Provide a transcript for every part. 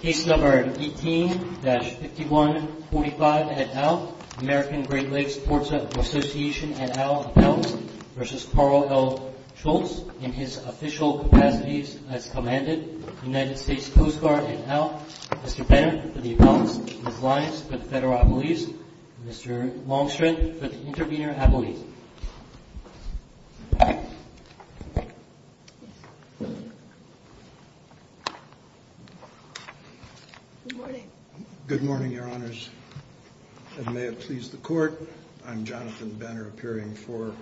Case No. 18-5145 et al. American Great Lakes Ports Association et al. Appellants v. Karl L. Schultz in his official capacities as Commander United States Coast Guard et al. Mr. Bennett for the Appellants Ms. Lyons for the Federal Appellees Mr. Longstreet for the Intervenor Appellees Good morning Good morning, Your Honors And may it please the Court I'm Jonathan Benner, appearing for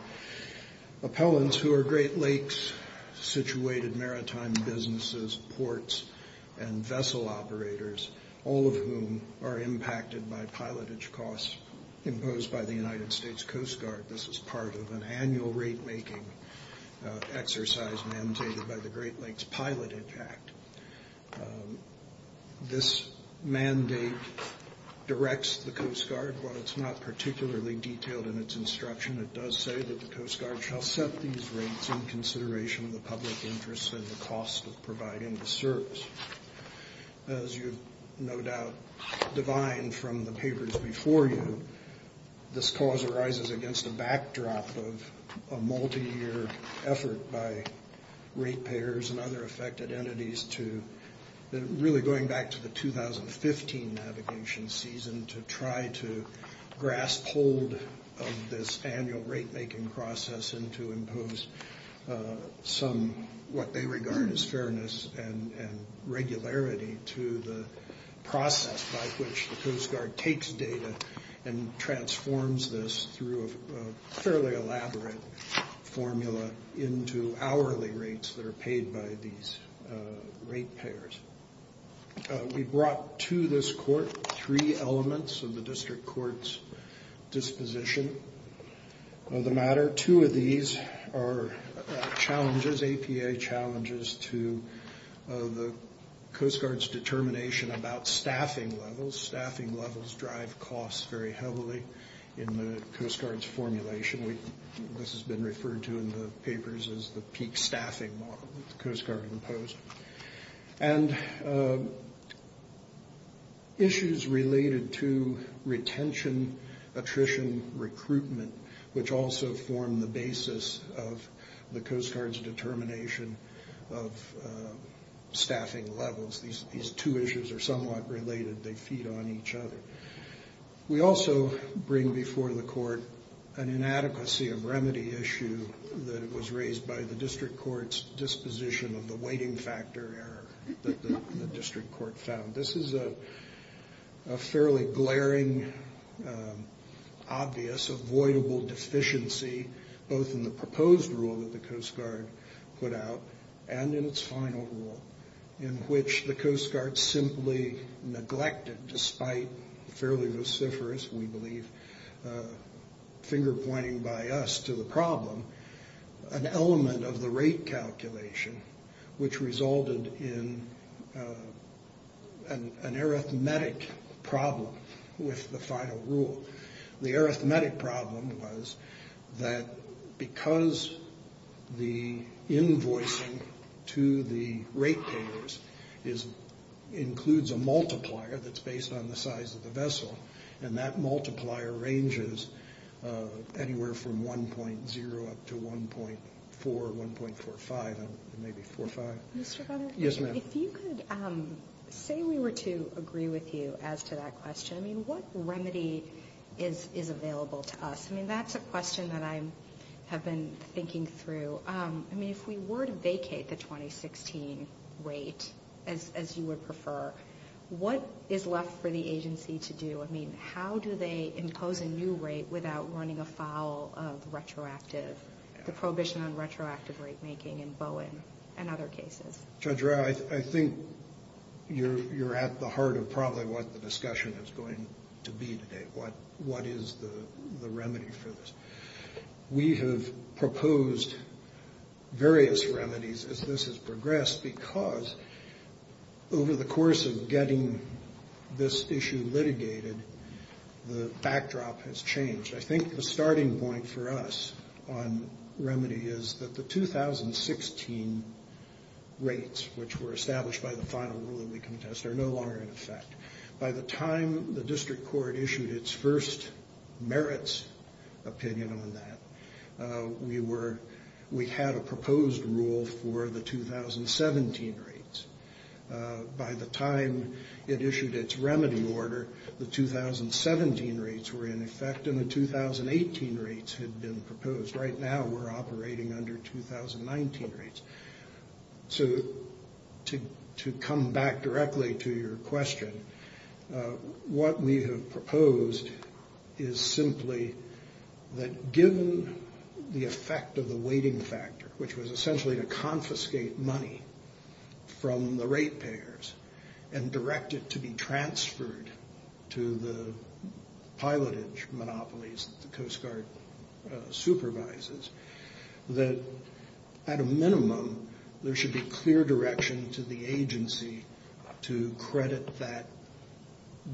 Appellants who are Great Lakes situated maritime businesses, ports and vessel operators all of whom are impacted by pilotage costs imposed by the United States Coast Guard This is part of an annual rate-making exercise mandated by the Great Lakes Pilotage Act This mandate directs the Coast Guard while it's not particularly detailed in its instruction it does say that the Coast Guard shall set these rates in consideration of the public interest and the cost of providing the service As you no doubt divine from the papers before you this cause arises against a backdrop of a multi-year effort by rate payers and other affected entities to really going back to the 2015 navigation season to try to grasp hold of this annual rate-making process and to impose some what they regard as fairness and regularity to the process by which the Coast Guard takes data and transforms this through a fairly elaborate formula into hourly rates that are paid by these rate payers We brought to this court three elements of the District Court's disposition of the matter Two of these are challenges, APA challenges to the Coast Guard's determination about staffing levels Staffing levels drive costs very heavily in the Coast Guard's formulation This has been referred to in the papers as the peak staffing model that the Coast Guard imposed And issues related to retention, attrition, recruitment which also form the basis of the Coast Guard's determination of staffing levels They feed on each other We also bring before the court an inadequacy of remedy issue that was raised by the District Court's disposition of the weighting factor error that the District Court found This is a fairly glaring obvious avoidable deficiency both in the proposed rule that the Coast Guard put out and in its final rule in which the Coast Guard simply neglected Despite fairly vociferous, we believe finger pointing by us to the problem an element of the rate calculation which resulted in an arithmetic problem with the final rule The arithmetic problem was that because the invoicing to the rate payers includes a multiplier that's based on the size of the vessel and that multiplier ranges anywhere from 1.0 up to 1.4 1.45, maybe 4.5 Yes ma'am If you could say we were to agree with you as to that question What remedy is available to us? That's a question that I have been thinking through If we were to vacate the 2016 rate as you would prefer What is left for the agency to do? I mean, how do they impose a new rate without running afoul of retroactive the prohibition on retroactive rate making in Bowen and other cases? Judge Rowe, I think you're at the heart of probably what the discussion is going to be today What is the remedy for this? We have proposed various remedies as this has progressed just because over the course of getting this issue litigated the backdrop has changed I think the starting point for us on remedy is that the 2016 rates which were established by the final rule that we contest are no longer in effect By the time the district court issued its first merits opinion on that we had a proposed rule for the 2017 rates By the time it issued its remedy order the 2017 rates were in effect and the 2018 rates had been proposed Right now we're operating under 2019 rates So, to come back directly to your question What we have proposed is simply that given the effect of the weighting factor which was essentially to confiscate money from the rate payers and direct it to be transferred to the pilotage monopolies that the Coast Guard supervises that at a minimum there should be clear direction to the agency to credit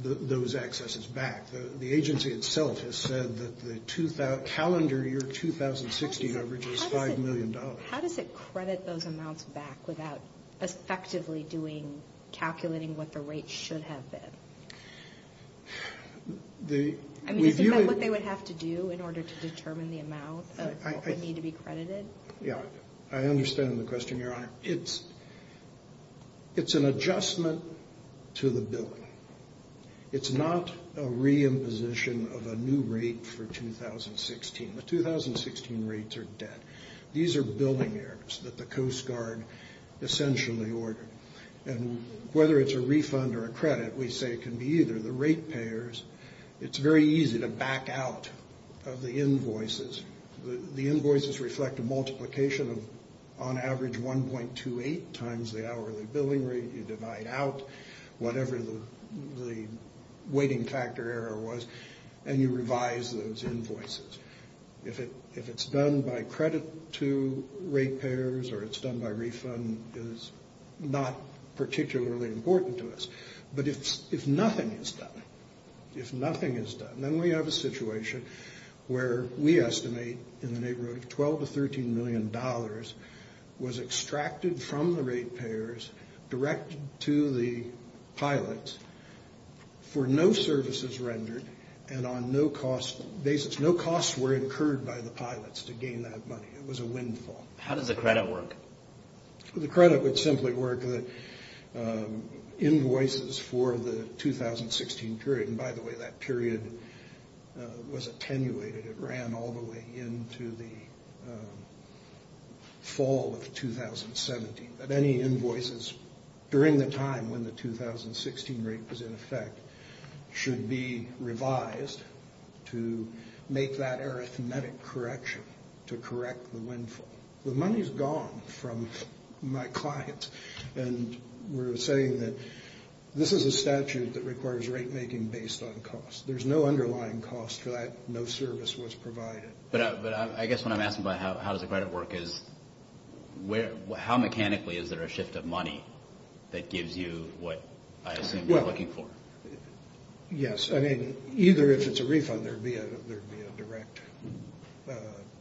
those excesses back The agency itself has said that the calendar year 2016 average is $5 million How does it credit those amounts back without effectively doing calculating what the rates should have been? Isn't that what they would have to do in order to determine the amount of what would need to be credited? I understand the question, Your Honor It's an adjustment to the billing It's not a re-imposition of a new rate for 2016 The 2016 rates are dead These are billing errors that the Coast Guard essentially ordered Whether it's a refund or a credit we say it can be either The rate payers It's very easy to back out of the invoices The invoices reflect a multiplication of on average 1.28 times the hourly billing rate You divide out whatever the waiting factor error was and you revise those invoices If it's done by credit to rate payers or it's done by refund it's not particularly important to us But if nothing is done then we have a situation where we estimate in the neighborhood of $12 to $13 million was extracted from the rate payers directed to the pilots for no services rendered and on no cost basis No costs were incurred by the pilots to gain that money It was a windfall How does the credit work? The credit would simply work invoices for the 2016 period By the way, that period was attenuated It ran all the way into the fall of 2017 Any invoices during the time when the 2016 rate was in effect should be revised to make that arithmetic correction to correct the windfall The money's gone from my clients and we're saying that this is a statute that requires rate making based on cost There's no underlying cost for that No service was provided But I guess what I'm asking about how does the credit work is how mechanically is there a shift of money that gives you what I assume you're looking for? Yes, I mean, either if it's a refund there'd be a direct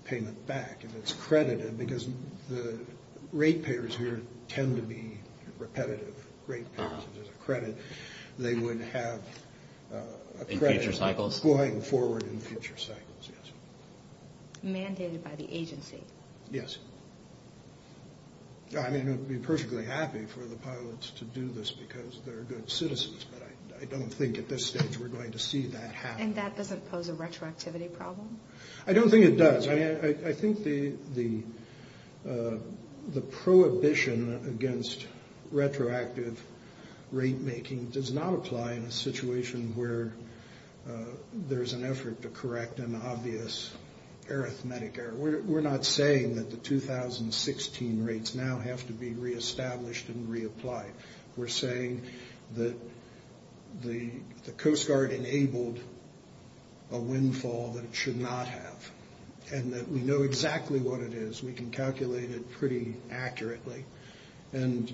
payment back if it's credited because the rate payers tend to be repetitive rate payers if there's a credit they would have a credit going forward in future cycles Mandated by the agency Yes I mean, I'd be perfectly happy for the pilots to do this because they're good citizens but I don't think at this stage we're going to see that happen And that doesn't pose a retroactivity problem? I don't think it does I think the prohibition against retroactive rate making does not apply in a situation where there's an effort to correct an obvious arithmetic error We're not saying that the 2016 rates now have to be reestablished and reapplied We're saying that the Coast Guard enabled a windfall that it should not have and that we know exactly what it is we can calculate it pretty accurately and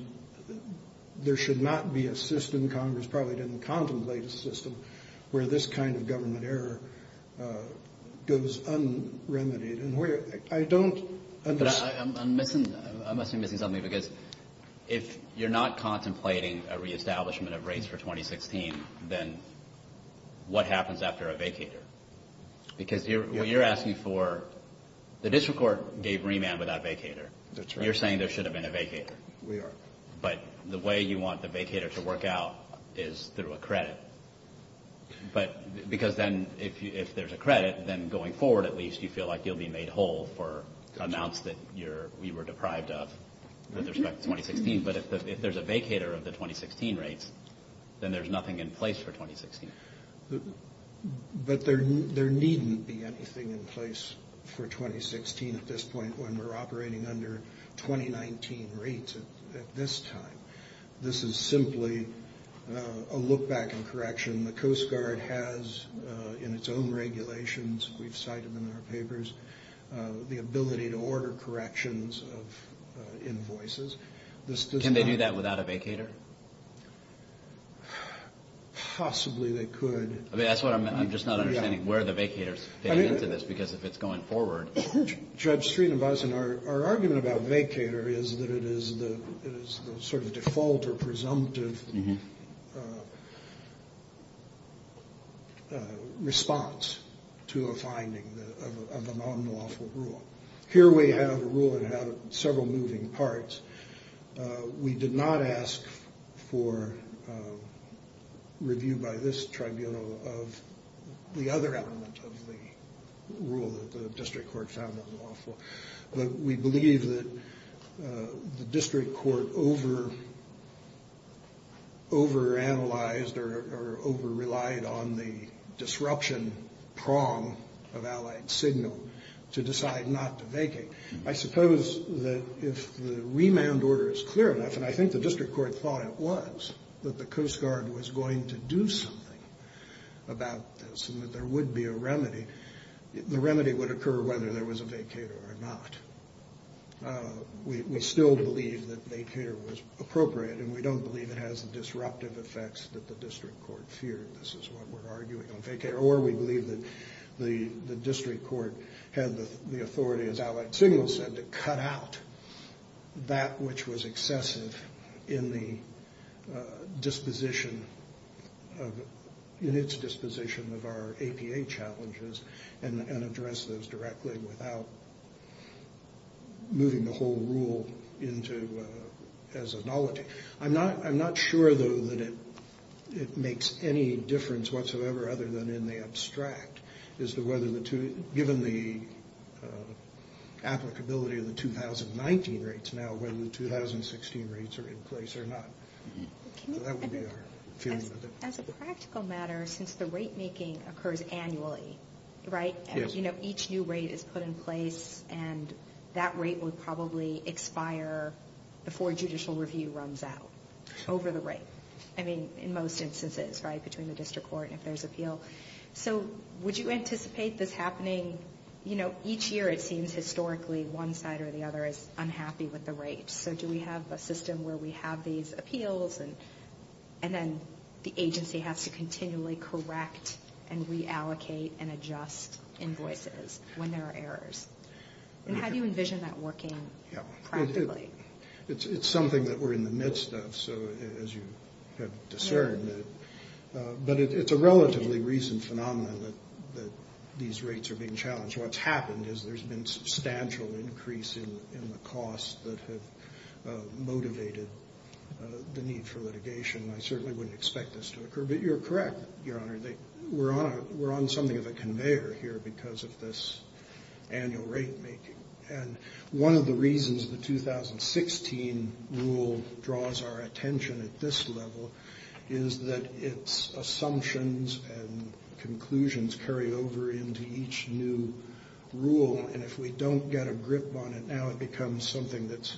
there should not be a system Congress probably didn't contemplate a system where this kind of government error goes unremedied I don't understand I must be missing something because if you're not contemplating a reestablishment of rates for 2016 then what happens after a vacator? Because what you're asking for the district court gave remand without a vacator That's right You're saying there should have been a vacator We are But the way you want the vacator to work out is through a credit Because then if there's a credit then going forward at least you feel like you'll be made whole for amounts that we were deprived of with respect to 2016 But if there's a vacator of the 2016 rates then there's nothing in place for 2016 But there needn't be anything in place for 2016 at this point when we're operating under 2019 rates at this time This is simply a look back and correction The Coast Guard has in its own regulations we've cited them in our papers the ability to order corrections of invoices Can they do that without a vacator? Possibly they could I'm just not understanding where the vacators fit into this because if it's going forward Judge Sreenivasan, our argument about vacator is that it is the sort of default or presumptive response to a finding of an unlawful rule Here we have a rule that had several moving parts We did not ask for review by this tribunal of the other element of the rule that the district court found unlawful We believe that the district court over-analyzed or over-relied on the disruption prong of allied signal to decide not to vacate I suppose that if the remand order is clear enough and I think the district court thought it was that the Coast Guard was going to do something about this and that there would be a remedy the remedy would occur whether there was a vacator or not We still believe that vacator was appropriate and we don't believe it has the disruptive effects that the district court feared This is what we're arguing on vacator or we believe that the district court had the authority as allied signal said to cut out that which was excessive in the disposition in its disposition of our APA challenges and address those directly without moving the whole rule as a knowledge I'm not sure though that it makes any difference whatsoever other than in the abstract as to whether given the applicability of the 2019 rates now whether the 2016 rates are in place or not As a practical matter since the rate making occurs annually each new rate is put in place and that rate would probably expire before judicial review runs out over the rate in most instances between the district court and if there's appeal would you anticipate this happening each year it seems historically one side or the other is unhappy with the rate so do we have a system where we have these appeals and then the agency has to continually correct and reallocate and adjust invoices when there are errors and how do you envision that working practically It's something that we're in the midst of so as you have discerned but it's a relatively recent phenomenon that these rates are being challenged What's happened is there's been substantial increase in the costs that have motivated the need for litigation I certainly wouldn't expect this to occur but you're correct your honor we're on something of a conveyor here because of this annual rate making and one of the reasons the 2016 rule draws our attention at this level is that it's assumptions and conclusions carry over into each new rule and if we don't get a grip on it now it becomes something that's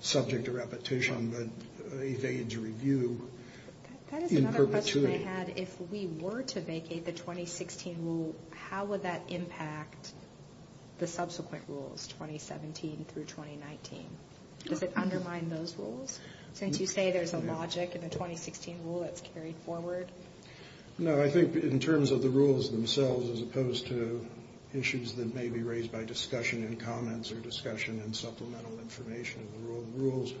subject to repetition that evades review in perpetuity That is another question I had if we were to vacate the 2016 rule how would that impact the subsequent rules 2017 through 2019 does it undermine those rules since you say there's a logic in the 2016 rule that's carried forward No I think in terms of the rules themselves as opposed to issues that may be raised by discussion in comments or discussion in supplemental information in the rules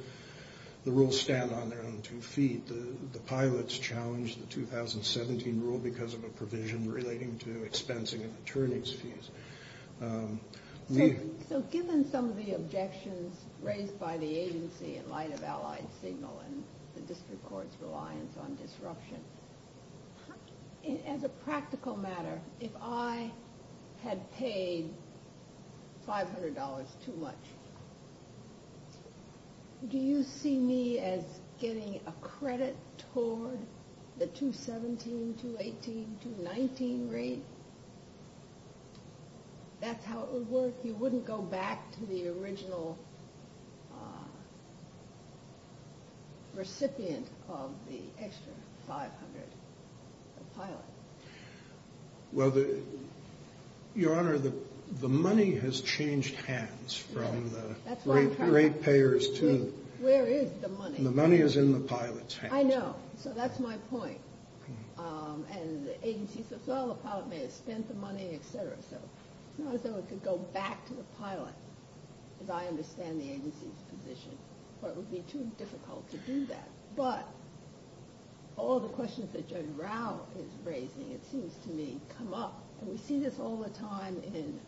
the rules stand on their own two feet the pilots challenged the 2017 rule because of a provision relating to expensing of attorney's fees So given some of the objections raised by the agency in light of allied signal and the district court's reliance on disruption as a practical matter if I had paid $500 too much do you see me as getting a credit toward the 2017, 2018, 2019 rate that's how it would work you wouldn't go back to the original recipient of the extra $500 the pilot well the your honor the money has changed hands from the rate payers to where is the money the money is in the pilot's hands I know, so that's my point and the agency says well the pilot may have spent the money etc so it's not as though it could go back to the pilot because I understand the agency's position but it would be too difficult to do that but all the questions that Judge Rao is raising it seems to me come up and we see this all the time in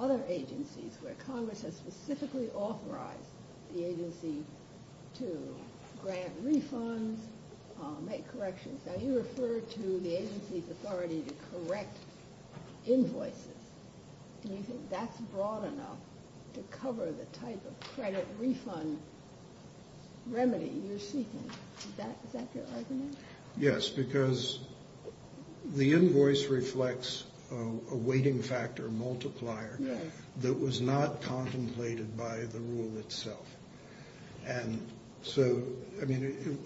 other agencies where Congress has specifically authorized the agency to grant refunds make corrections now you refer to the agency's authority to correct invoices do you think that's broad enough to cover the type of credit refund remedy you're seeking is that your argument? yes because the invoice reflects a weighting factor multiplier that was not contemplated by the rule itself and so I mean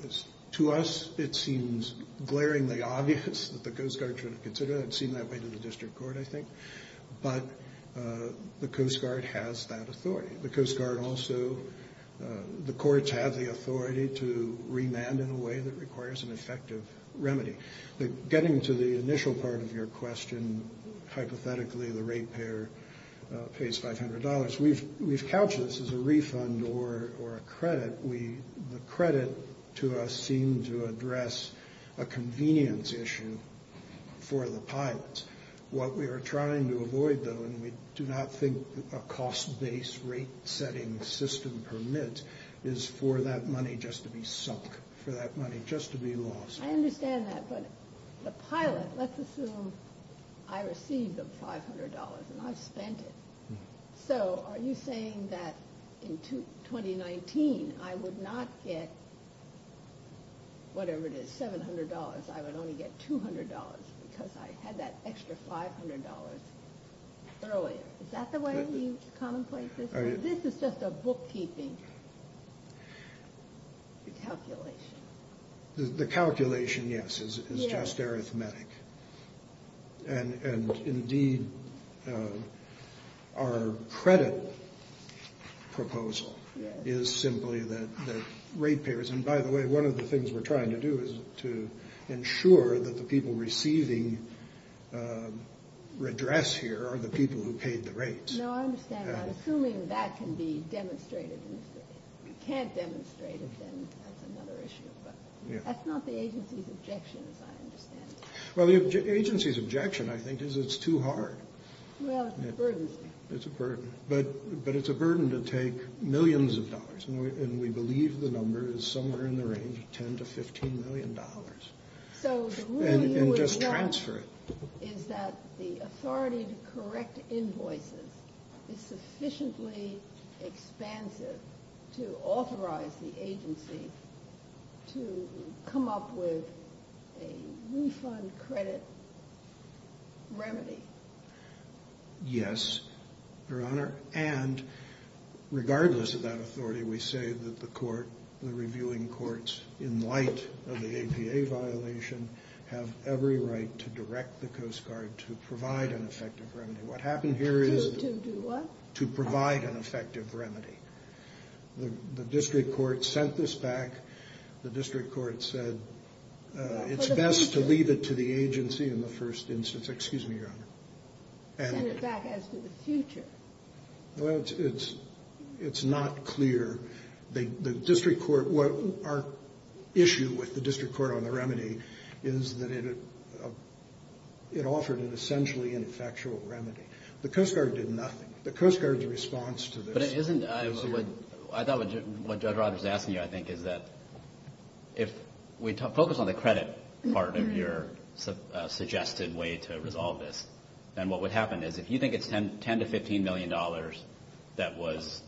to us it seems glaringly obvious that the Coast Guard should have considered it it seemed that way to the District Court I think but the Coast Guard has that authority the Coast Guard also the courts have the authority to remand in a way that requires an effective remedy getting to the initial part of your question hypothetically the rate payer pays $500 we've couched this as a refund or a credit the credit to us seemed to address a convenience issue for the pilots what we are trying to avoid though and we do not think a cost based rate setting system permit is for that money just to be sunk just to be lost I understand that but the pilot let's assume I received $500 and I've spent it so are you saying that in 2019 I would not get whatever it is $700 I would only get $200 because I had that extra $500 is that the way you commonplace this? This is just a book keeping calculation the calculation yes is just arithmetic and indeed our credit proposal is simply that rate payers and by the way one of the things we are trying to do is to ensure that the people receiving redress here are the people who paid the rates assuming that can be demonstrated if you can't demonstrate then that's another issue that's not the agency's objection as I understand it the agency's objection I think is it's too hard well it's a burden but it's a burden to take millions of dollars and we believe the number is somewhere in the range of 10 to 15 million dollars and just transfer it is that the authority to correct invoices is sufficiently expansive to authorize the agency to come up with a refund credit remedy yes your honor and regardless of that authority we say that the court the reviewing courts in light of the APA violation have every right to direct the coast guard to provide an effective remedy what happened here is to provide an effective remedy the district court sent this back the district court said it's best to leave it to the agency in the first instance excuse me your honor send it back as to the future well it's it's not clear the district court our issue with the district court on the remedy is that it it offered an essentially ineffectual remedy the coast guard did nothing the coast guard's response to this I thought what Judge Rogers is asking you I think is that if we focus on the credit part of your suggested way to resolve this then what would happen is if you think it's 10 to 15 million dollars that was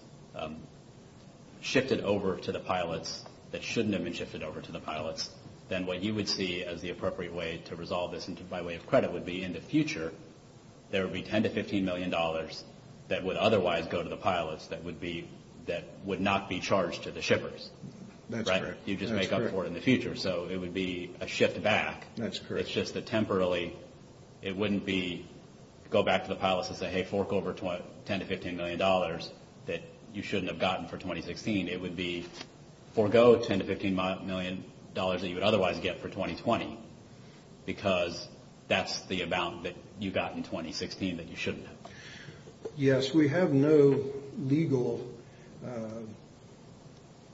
shifted over to the pilots that shouldn't have been shifted over to the pilots then what you would see as the appropriate way to resolve this by way of credit would be in the future there would be 10 to 15 million dollars that would otherwise go to the pilots that would be that would not be charged to the shippers that's correct so it would be a shift back it's just that temporarily it wouldn't be go back to the pilots and say hey fork over 10 to 15 million dollars that you shouldn't have gotten for 2016 it would be forego 10 to 15 million dollars that you would otherwise get for 2020 because that's the amount that you got in 2016 that you shouldn't have yes we have no legal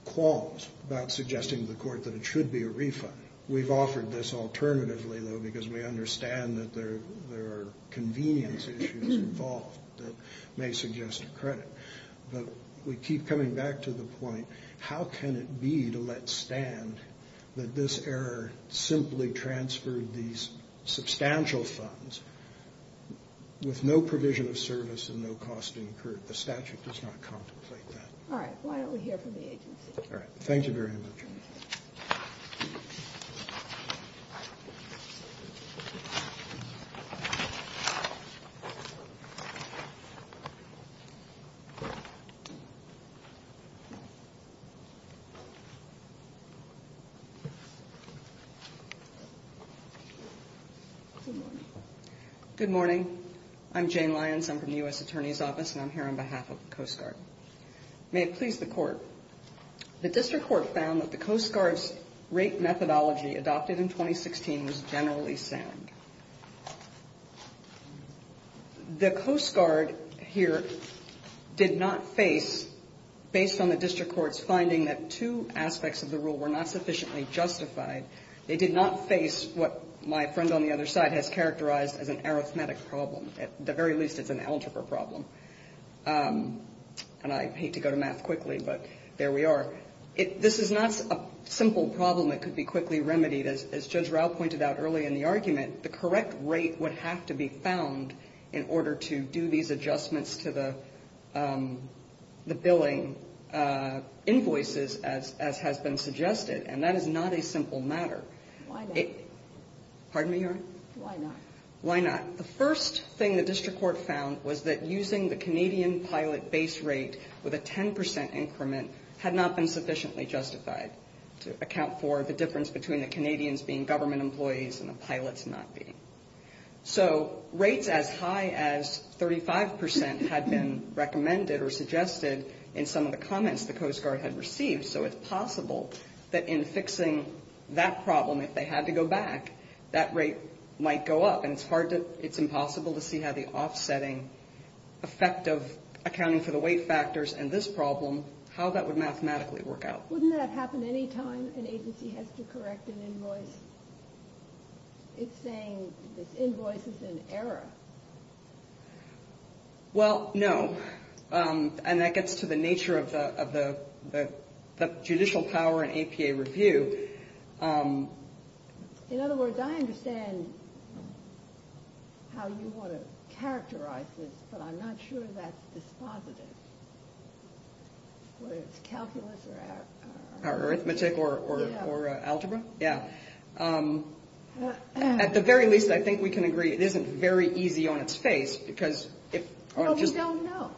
clause about suggesting to the court that it should be a refund we've offered this alternatively though because we understand that there are convenience issues involved that may suggest a credit but we keep coming back to the point how can it be to let stand that this error simply transferred these substantial funds with no provision of service and no cost incurred the statute does not contemplate that alright why don't we hear from the agency thank you very much good morning I'm Jane Lyons I'm from the U.S. Attorney's Office and I'm here on behalf of the Coast Guard may it please the court the district court found that the Coast Guard's rate methodology adopted in 2016 was generally sound the Coast Guard here did not face based on the district court's finding that two aspects of the rule were not sufficiently justified they did not face what my friend on the other side has characterized as an arithmetic problem at the very least it's an algebra problem and I hate to go to math quickly but there we are this is not a simple problem that could be quickly remedied as Judge Rao pointed out early in the argument the correct rate would have to be found in order to do these adjustments to the billing invoices as has been suggested and that is not a simple matter why not pardon me your honor why not the first thing the district court found was that using the Canadian pilot base rate with a 10% increment had not been sufficiently justified to account for the difference between the Canadians being government employees and the pilots not being so rates as high as 35% had been recommended or suggested in some of the comments the Coast Guard had received so it's possible that in fixing that problem if they had to go back that rate might go up and it's hard to it's impossible to see how the offsetting effect of accounting for the weight factors and this problem how that would mathematically work out wouldn't that happen anytime an agency has to correct an invoice it's saying this invoice is in error well no and that gets to the nature of the judicial power and APA review in other words I understand how you want to characterize this but I'm not sure that's dispositive whether it's calculus or arithmetic or algebra yeah at the very least I think we can agree it isn't very easy on it's face because if no we don't know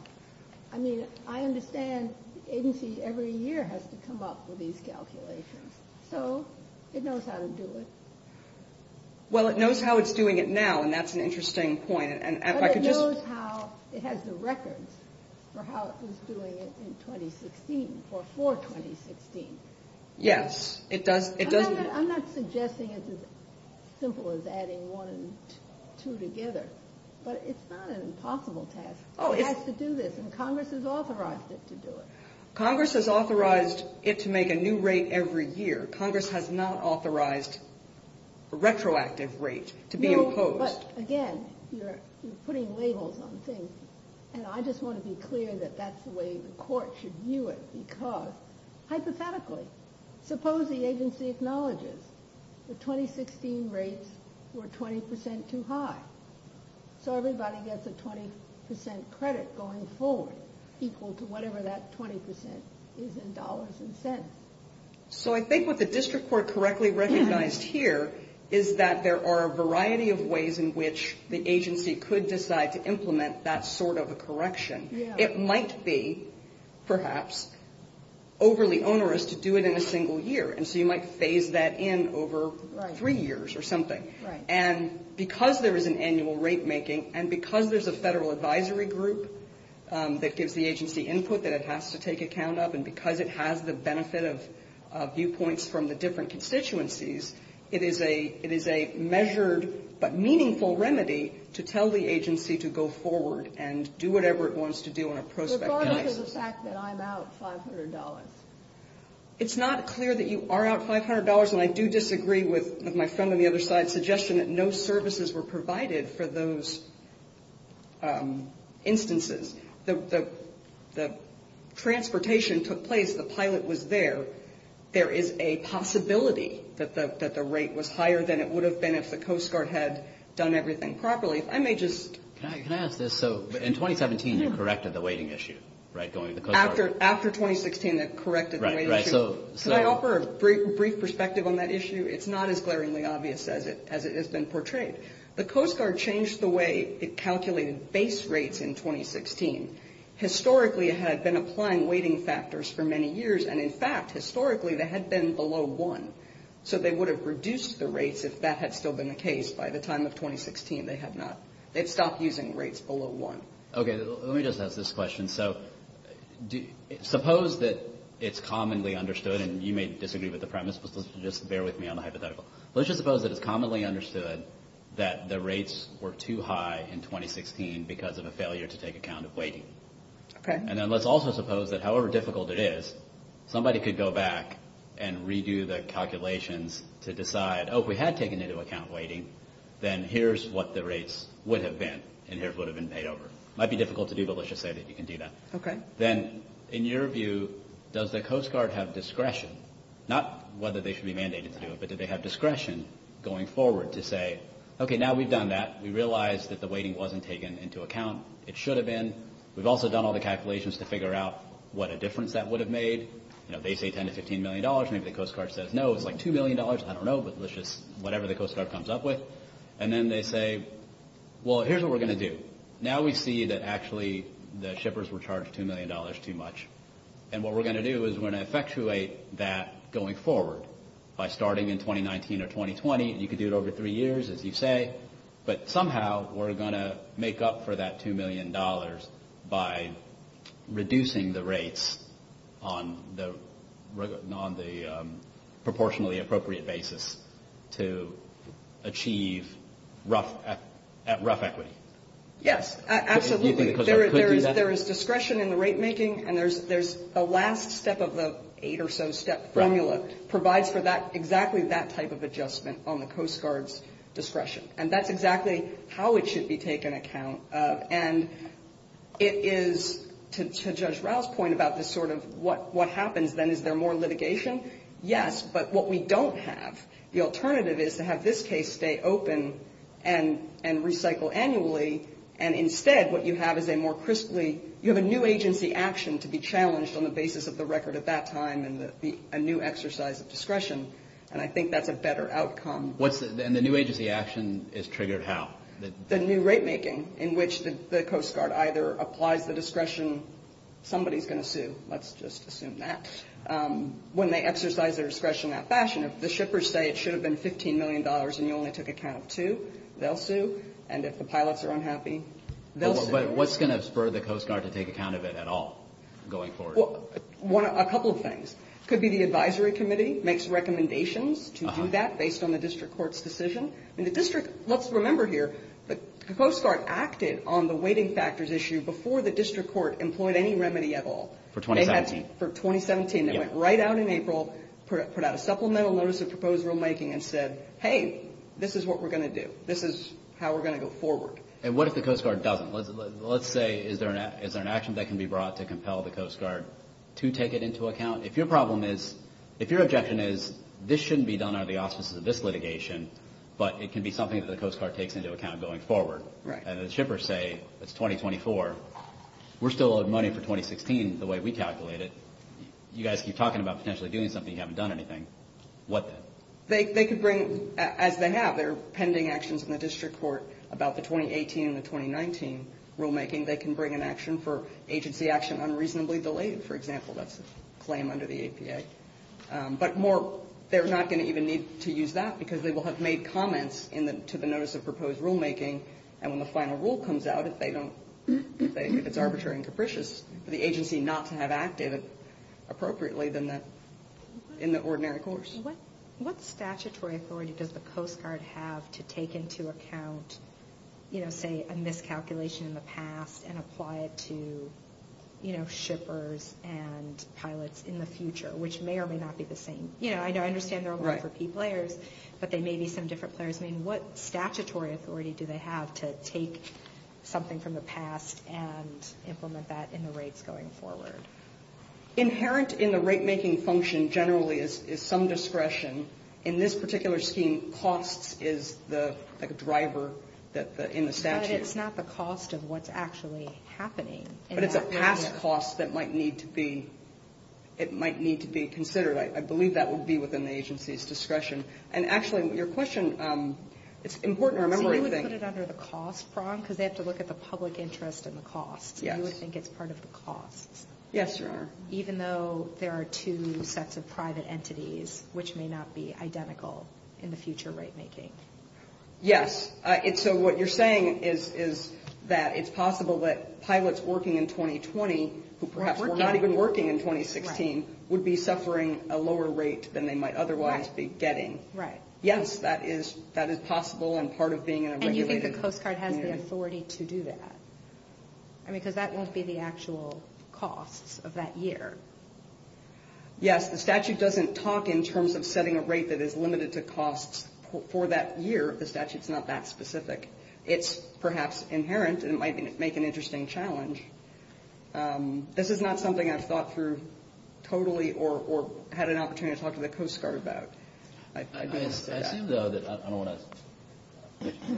I mean I understand agencies every year has to come up with these calculations so it knows how to do it well it knows how it's doing it now and that's an interesting point but it knows how it has the records for how it was doing it in 2016 for 2016 yes it does I'm not suggesting it's as simple as adding one and two together but it's not an impossible task it has to do this and Congress has authorized it to do it Congress has authorized it to make a new rate every year Congress has not authorized a retroactive rate to be imposed again you're putting labels on things and I just want to be clear that that's the way the court should view it because hypothetically suppose the agency acknowledges the 2016 rates were 20% too high so everybody gets a 20% credit going forward equal to whatever that 20% is in dollars and cents so I think what the district court correctly recognized here is that there are a variety of ways in which the agency could decide to implement that sort of a correction it might be perhaps overly onerous to do it in a single year and so you might phase that in over three years or something and because there is an annual rate making and because there's a federal advisory group that gives the agency input that it has to take account of and because it has the benefit of viewpoints from the different constituencies it is a measured but meaningful remedy to tell the agency to go forward and do whatever it wants to do in a prospective case Regarding the fact that I'm out $500 It's not clear that you are out $500 and I do disagree with my friend on the other side's suggestion that no services were provided for those instances the transportation took place the pilot was there there is a possibility that the rate was higher than it would have been if the Coast Guard had done everything properly I may just In 2017 you corrected the waiting issue After 2016 they corrected the waiting issue Can I offer a brief perspective on that issue? It's not as glaringly obvious as it has been portrayed The Coast Guard changed the way it calculated base rates in 2016 Historically it had been applying waiting factors for many years and in fact historically they had been below 1 so they would have reduced the rates if that had still been the case by the time of 2016 they had not stopped using rates below 1 Let me just ask this question Suppose that it's commonly understood and you may disagree with the premise but just bear with me on the hypothetical. Let's just suppose that it's commonly understood that the rates were too high in 2016 because of a failure to take account of waiting and then let's also suppose that however difficult it is, somebody could go back and redo the calculations to decide oh if we had taken into account waiting then here's what the rates would have been and here's what would have been paid over Might be difficult to do but let's just say that you can do that Then in your view does the Coast Guard have discretion not whether they should be mandated to do it but do they have discretion going forward to say okay now we've done that we realize that the waiting wasn't taken into account it should have been we've also done all the calculations to figure out what a difference that would have made they say 10 to 15 million dollars, maybe the Coast Guard says no it's like 2 million dollars, I don't know but let's just whatever the Coast Guard comes up with and then they say well here's what we're going to do. Now we see that actually the shippers were charged 2 million dollars too much and what we're going to do is we're going to effectuate that going forward by starting in 2019 or 2020 you could do it over 3 years as you say but somehow we're going to make up for that 2 million dollars by reducing the rates on the proportionally appropriate basis to achieve rough equity Yes absolutely there is discretion in the rate making and there's a last step of the 8 or so step formula that provides for exactly that type of adjustment on the Coast Guard's discretion and that's exactly how it should be taken account of and it is to Judge Rouse's point about this sort of what happens then is there more litigation? Yes but what we don't have, the alternative is to have this case stay open and recycle annually and instead what you have is a more crisply, you have a new agency action to be challenged on the basis of the record at that time and a new exercise of discretion and I think that's a better outcome. And the new agency action is triggered how? The new rate making in which the Coast Guard either applies the discretion somebody's going to sue let's just assume that when they exercise their discretion in that fashion if the shippers say it should have been 15 million dollars and you only took account of 2 they'll sue and if the pilots are unhappy they'll sue. But what's going to spur the Coast Guard to take account of it at all going forward? A couple of things. Could be the advisory committee makes recommendations to do that based on the district court's decision and the district, let's remember here the Coast Guard acted on the waiting factors issue before the district court employed any remedy at all. For 2017 For 2017, they went right out in April, put out a supplemental notice of proposed rule making and said hey this is what we're going to do, this is how we're going to go forward. And what if the Coast Guard doesn't? Let's say is there an action that can be brought to compel the Coast Guard to take it into account? If your problem is if your objection is this shouldn't be done out of the auspices of this litigation but it can be something that the Coast Guard takes into account going forward. And the shippers say it's 2024 we're still owed money for 2016 the way we calculate it. You guys keep talking about potentially doing something, you haven't done anything what then? They could bring as they have, they're pending actions in the district court about the 2018 and the 2019 rule making, they can bring an action for agency action unreasonably delayed for example, that's a claim under the APA. But more, they're not going to even need to use that because they will have made comments to the notice of proposed rule making and when the final rule comes out if it's arbitrary and capricious for the agency not to have acted appropriately in the ordinary course. What statutory authority does the Coast Guard have to take into account, you know, say a miscalculation in the past and apply it to shippers and pilots in the future, which may or may not be the same. You know, I understand they're only for P players but they may be some different players. What statutory authority do they have to take something from the past and implement that in the rates going forward? Inherent in the rate making function generally is some discretion in this particular scheme costs is the driver in the statute. But it's not the cost of what's actually happening. But it's a past cost that might need to be it might need to be considered. I believe that would be within the agency's discretion and actually, your question it's important to remember. So you would put it under the cost prong because they have to look at the public interest and the cost. Yes. You would think it's part of the cost. Yes, Your Honor. Even though there are two sets of private entities which may or may not be identical in the future rate making. Yes. So what you're saying is that it's possible that pilots working in 2020 who perhaps were not even working in 2016 would be suffering a lower rate than they might otherwise be getting. Right. Yes, that is possible and part of being in a regulated community. And you think the Coast Guard has the authority to do that? I mean, because that won't be the actual costs of that year. Yes. The statute doesn't talk in terms of setting a rate that is limited to costs for that year. The statute's not that specific. It's perhaps inherent and it might make an interesting challenge. This is not something I've thought through totally or had an opportunity to talk to the Coast Guard about. I assume, though, that I don't want to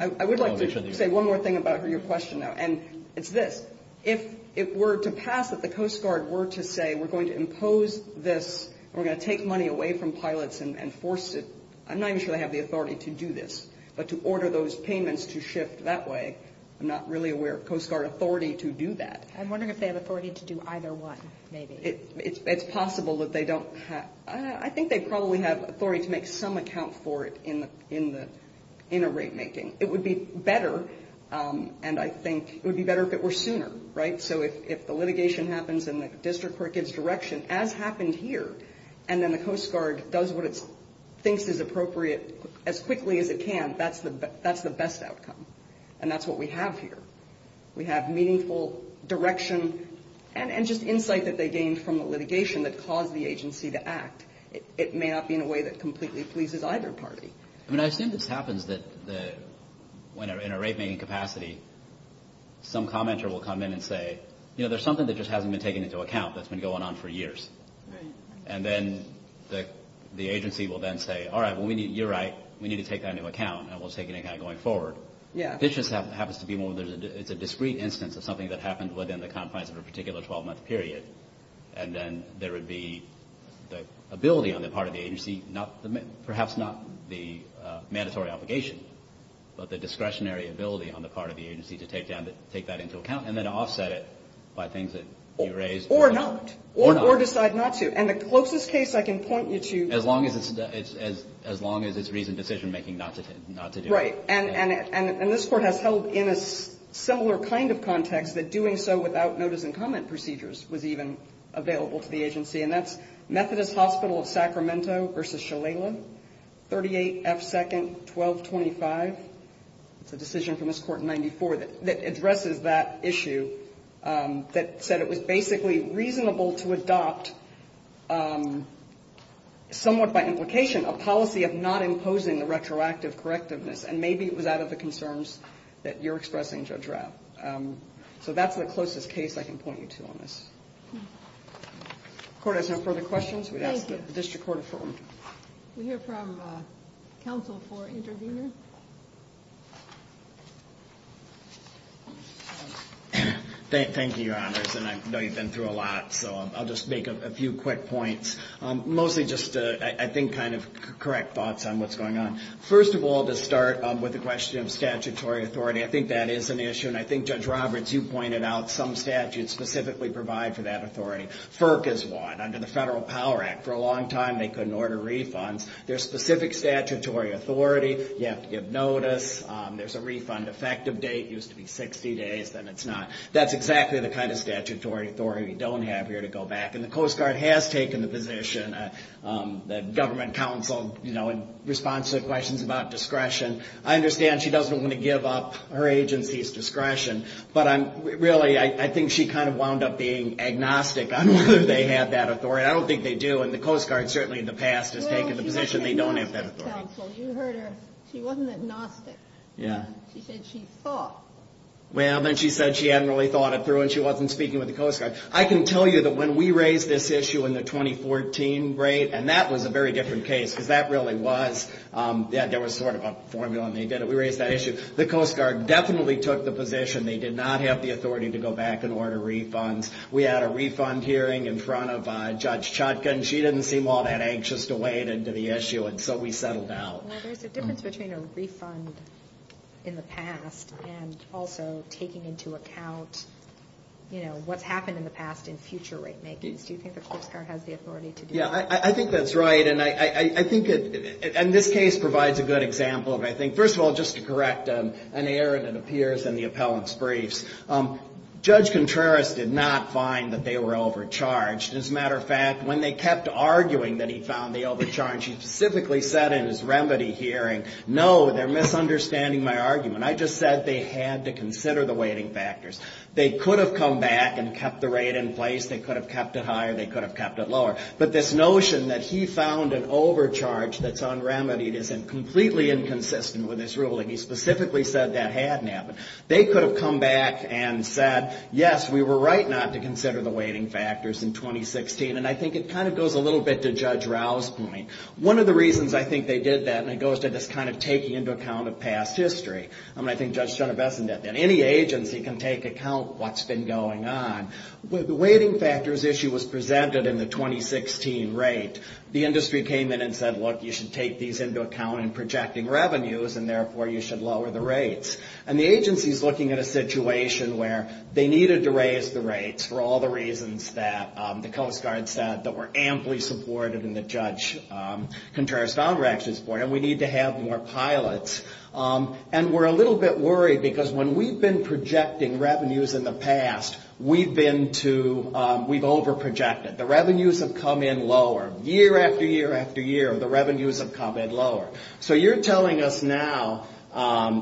I would like to say one more thing about your question, though, and it's this. If it were to pass that the Coast Guard were to say we're going to impose this we're going to take money away from pilots and force it. I'm not even sure they have the authority to do this. But to order those payments to shift that way, I'm not really aware of Coast Guard authority to do that. I'm wondering if they have authority to do either one, maybe. It's possible that they don't have. I think they probably have authority to make some account for it in a rate making. It would be better and I think it would be better if it were sooner, right? So if the litigation happens and the district court gives direction, as happened here and then the Coast Guard does what it thinks is appropriate as quickly as it can, that's the best outcome. And that's what we have here. We have meaningful direction and just insight that they gained from the litigation that caused the agency to act. It may not be in a way that completely pleases either party. I mean, I assume this happens that when in a rate making capacity some commenter will come in and say, you know, there's something that just hasn't been taken into account that's been going on for years. And then the agency will then say, all right, you're right, we need to take that into account and we'll take it into account going forward. This just happens to be more, it's a discrete instance of something that happened within the confines of a particular 12-month period and then there would be the ability on the part of the agency, perhaps not the mandatory obligation, but the discretionary ability on the part of the agency to take that into account and then offset it by things that you raised. Or not. Or decide not to. And the closest case I can point you to As long as it's recent decision making not to do it. Right. And this Court has held in a similar kind of context that doing so without notice and comment procedures was even available to the agency. And that's Methodist Hospital of Sacramento v. Shalala, 38 F. 2nd 1225. It's a decision from this Court in 94 that addresses that issue that said it was basically reasonable to adopt somewhat by implication a policy of not imposing the retroactive correctiveness and maybe it was out of the concerns that you're expressing, Judge Rapp. So that's the closest case I can point you to on this. The Court has no further questions. Thank you. The District Court affirmed. We hear from counsel for intervener. Thank you, Your Honors. I know you've been through a lot, so I'll just make a few quick points. Mostly just, I think, kind of correct thoughts on what's going on. First of all, to start with the question of statutory authority, I think that is an issue and I think Judge Roberts, you pointed out some statutes specifically provide for that authority. FERC is one. Under the refunds, there's specific statutory authority. You have to give notice. There's a refund effective date. It used to be 60 days. Then it's not. That's exactly the kind of statutory authority we don't have here to go back. And the Coast Guard has taken the position that government counsel responds to questions about discretion. I understand she doesn't want to give up her agency's discretion, but really, I think she kind of wound up being agnostic on whether they have that authority. I don't think they do, and the Coast Guard, certainly in the past, has taken the position they don't have that authority. You heard her. She wasn't agnostic. She said she thought. Well, then she said she hadn't really thought it through and she wasn't speaking with the Coast Guard. I can tell you that when we raised this issue in the 2014 rate, and that was a very different case, because that really was, yeah, there was sort of a formula and they did it. We raised that issue. The Coast Guard definitely took the position they did not have the authority to go back and order refunds. We had a refund hearing in front of Judge Chodkin. She didn't seem all that anxious to wade into the issue, and so we settled out. Well, there's a difference between a refund in the past and also taking into account what's happened in the past in future rate makings. Do you think the Coast Guard has the authority to do that? Yeah, I think that's right, and I think this case provides a good example of, I think, first of all, just to correct an error that appears in the appellant's briefs. Judge Contreras did not find that they were overcharged. As a matter of fact, when they kept arguing that he found the overcharge, he specifically said in his remedy hearing, no, they're misunderstanding my argument. I just said they had to consider the weighting factors. They could have come back and kept the rate in place. They could have kept it higher. They could have kept it lower, but this notion that he found an overcharge that's unremitied is completely inconsistent with his ruling. He specifically said that hadn't happened. They could have come back and said, yes, we were right not to consider the weighting factors in 2016, and I think it kind of goes a little bit to Judge Rouse's point. One of the reasons I think they did that, and it goes to this kind of taking into account of past history. I think Judge Genevesan did that. Any agency can take account of what's been going on. The weighting factors issue was presented in the 2016 rate. The industry came in and said, look, you should take these into account in projecting revenues, and therefore you should lower the rates. And the agency's looking at a situation where they needed to raise the rates for all the reasons that the Coast Guard said that were amply supportive and that Judge Contreras-Founder actually supported, and we need to have more pilots. And we're a little bit worried because when we've been projecting revenues in the past, we've been to, we've overprojected. The revenues have come in lower. Year after year after year, the revenues have come in lower. So you're telling us now,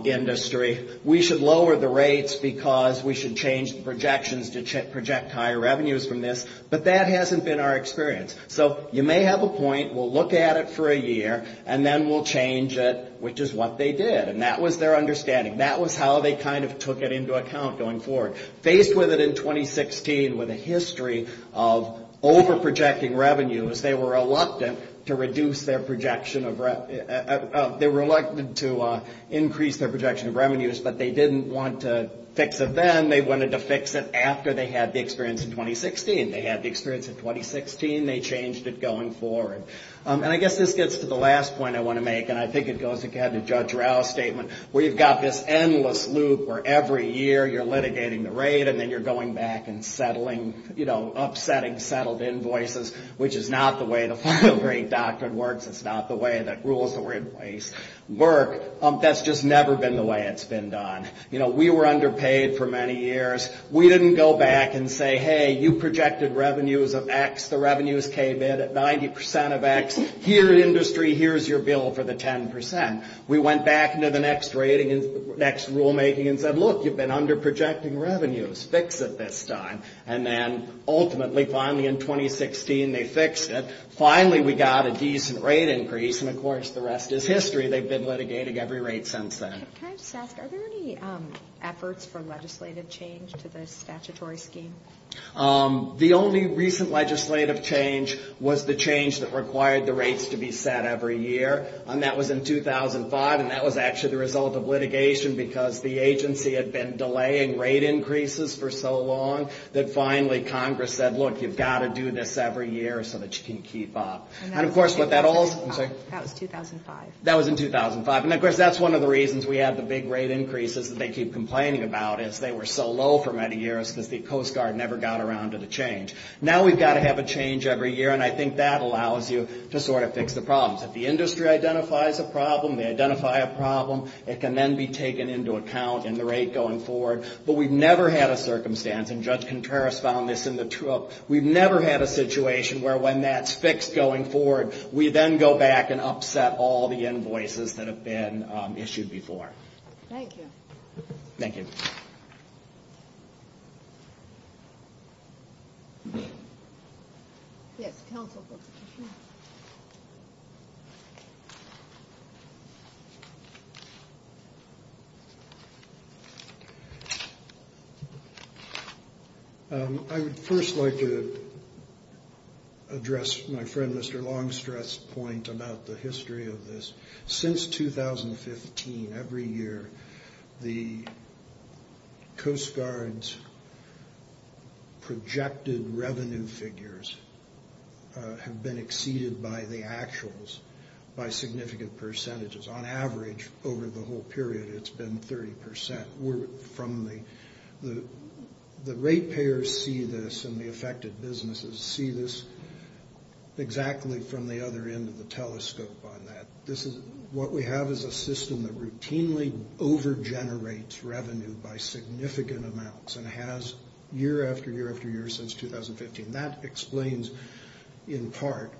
industry, we should lower the rates because we should change the projections to project higher revenues from this, but that hasn't been our experience. So you may have a point, we'll look at it for a year, and then we'll change it, which is what they did. And that was their understanding. That was how they kind of took it into account going forward. Faced with it in 2016 with a history of overprojecting revenues, they were reluctant to reduce their projection of they were reluctant to increase their projection of revenues, but they didn't want to fix it then. They wanted to fix it after they had the experience in 2016. They had the experience in 2016. They changed it going forward. And I guess this gets to the last point I want to make, and I think it goes again to Judge Rao's statement. We've got this endless loop where every year you're litigating the rate and then you're going back and settling, you know, upsetting settled invoices, which is not the way the rules that we're in place work. That's just never been the way it's been done. You know, we were underpaid for many years. We didn't go back and say, hey, you projected revenues of X. The revenues came in at 90% of X. Here, industry, here's your bill for the 10%. We went back into the next rulemaking and said, look, you've been underprojecting revenues. Fix it this time. And then ultimately, finally, in 2016 they fixed it. Finally, we got a decent rate increase, and of course the rest is history. They've been litigating every rate since then. Can I just ask, are there any efforts for legislative change to the statutory scheme? The only recent legislative change was the change that required the rates to be set every year. And that was in 2005, and that was actually the result of litigation because the agency had been delaying rate increases for so long that finally Congress said, look, you've got to do this every year so that you can keep up. And of course, what that also... That was in 2005. And of course, that's one of the reasons we have the big rate increases that they keep complaining about is they were so low for many years because the Coast Guard never got around to the change. Now we've got to have a change every year, and I think that allows you to sort of fix the problems. If the industry identifies a problem, they identify a problem, it can then be taken into account in the rate going forward. But we've never had a circumstance, and Judge Contreras found this in the... We've never had a situation where when that's fixed going forward, we then go back and upset all the invoices that have been issued before. Thank you. Yes, counsel. Thank you. I would first like to address my friend Mr. Longstreet's point about the history of this. Since 2015, every year, the Coast Guard's projected revenue figures have been exceeded by the actuals by significant percentages. On average, over the whole period, it's been 30%. The rate payers see this, and the affected businesses see this exactly from the other end of the telescope on that. What we have is a system that routinely overgenerates revenue by significant amounts, and has year after year after year since 2015. That explains, in part,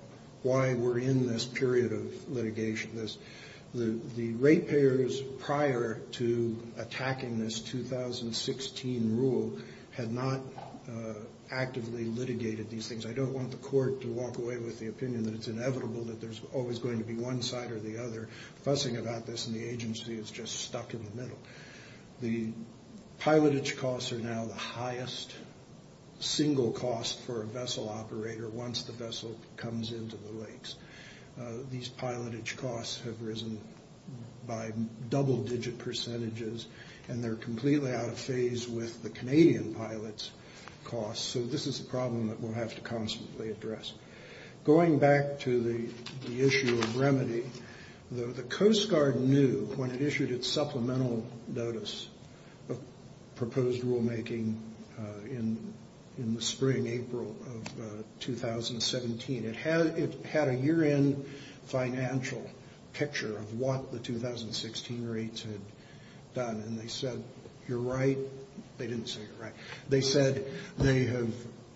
why we're in this period of litigation. The rate payers prior to attacking this 2016 rule had not actively litigated these things. I don't want the court to walk away with the opinion that it's inevitable that there's always going to be one side or the other fussing about this, and the agency is just stuck in the middle. The pilotage costs are now the highest single cost for a vessel operator once the vessel comes into the lakes. These pilotage costs have risen by double-digit percentages, and they're completely out of phase with the Canadian pilots' costs, so this is a problem that we'll have to constantly address. Going back to the issue of remedy, the Coast Guard knew when it issued its supplemental notice of proposed rulemaking in the spring-April of 2017. It had a year-end financial picture of what the 2016 rates had done, and they said, you're right. They didn't say you're right. They said they have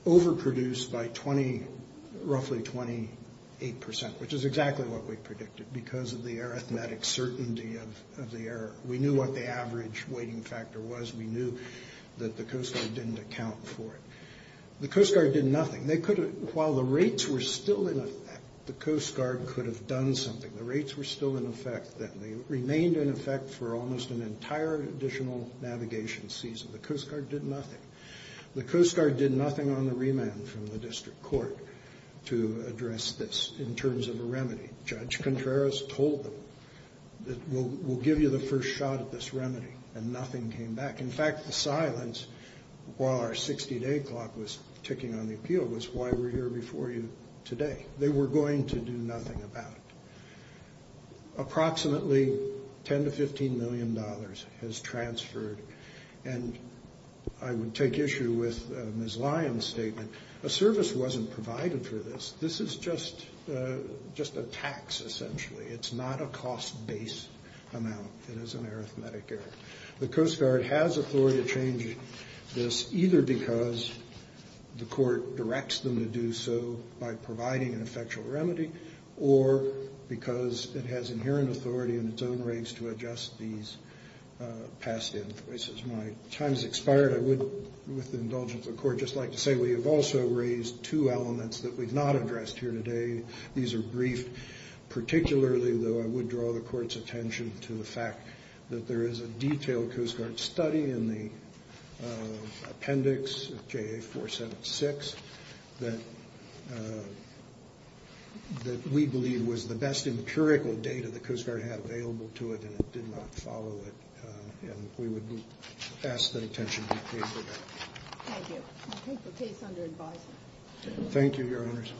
overproduced by roughly 28%, which is exactly what we predicted because of the arithmetic certainty of the error. We knew what the average weighting factor was. We knew that the Coast Guard didn't account for it. The Coast Guard did nothing. While the rates were still in effect, the Coast Guard could have done something. The rates were still in effect. They remained in effect for almost an entire additional navigation season. The Coast Guard did nothing. The Coast Guard did nothing on the remand from the District Court to address this in terms of a remedy. Judge Contreras told them, we'll give you the first shot at this remedy, and nothing came back. In fact, the silence while our 60-day clock was ticking on the appeal was why we're here before you today. They were going to do nothing about it. Approximately $10-15 million has transferred, and I would take issue with Ms. Lyons' statement. A service wasn't provided for this. This is just a tax, essentially. It's not a cost-based amount. It is an arithmetic error. The Coast Guard has authority to change this, either because the Court directs them to do so by providing an effectual remedy, or because it has inherent authority in its own race to adjust these past invoices. My time has expired. I would, with the indulgence of the Court, just like to say we have also raised two elements that we've not addressed here today. These are brief. Particularly though, I would draw the Court's attention to the fact that there is a detailed Coast Guard study in the appendix of JA 476 that we believe was the best in the curriculum data the Coast Guard had available to it, and it did not follow it. And we would ask that attention be paid for that. Thank you. I'll take the case under advisement. Thank you, Your Honors.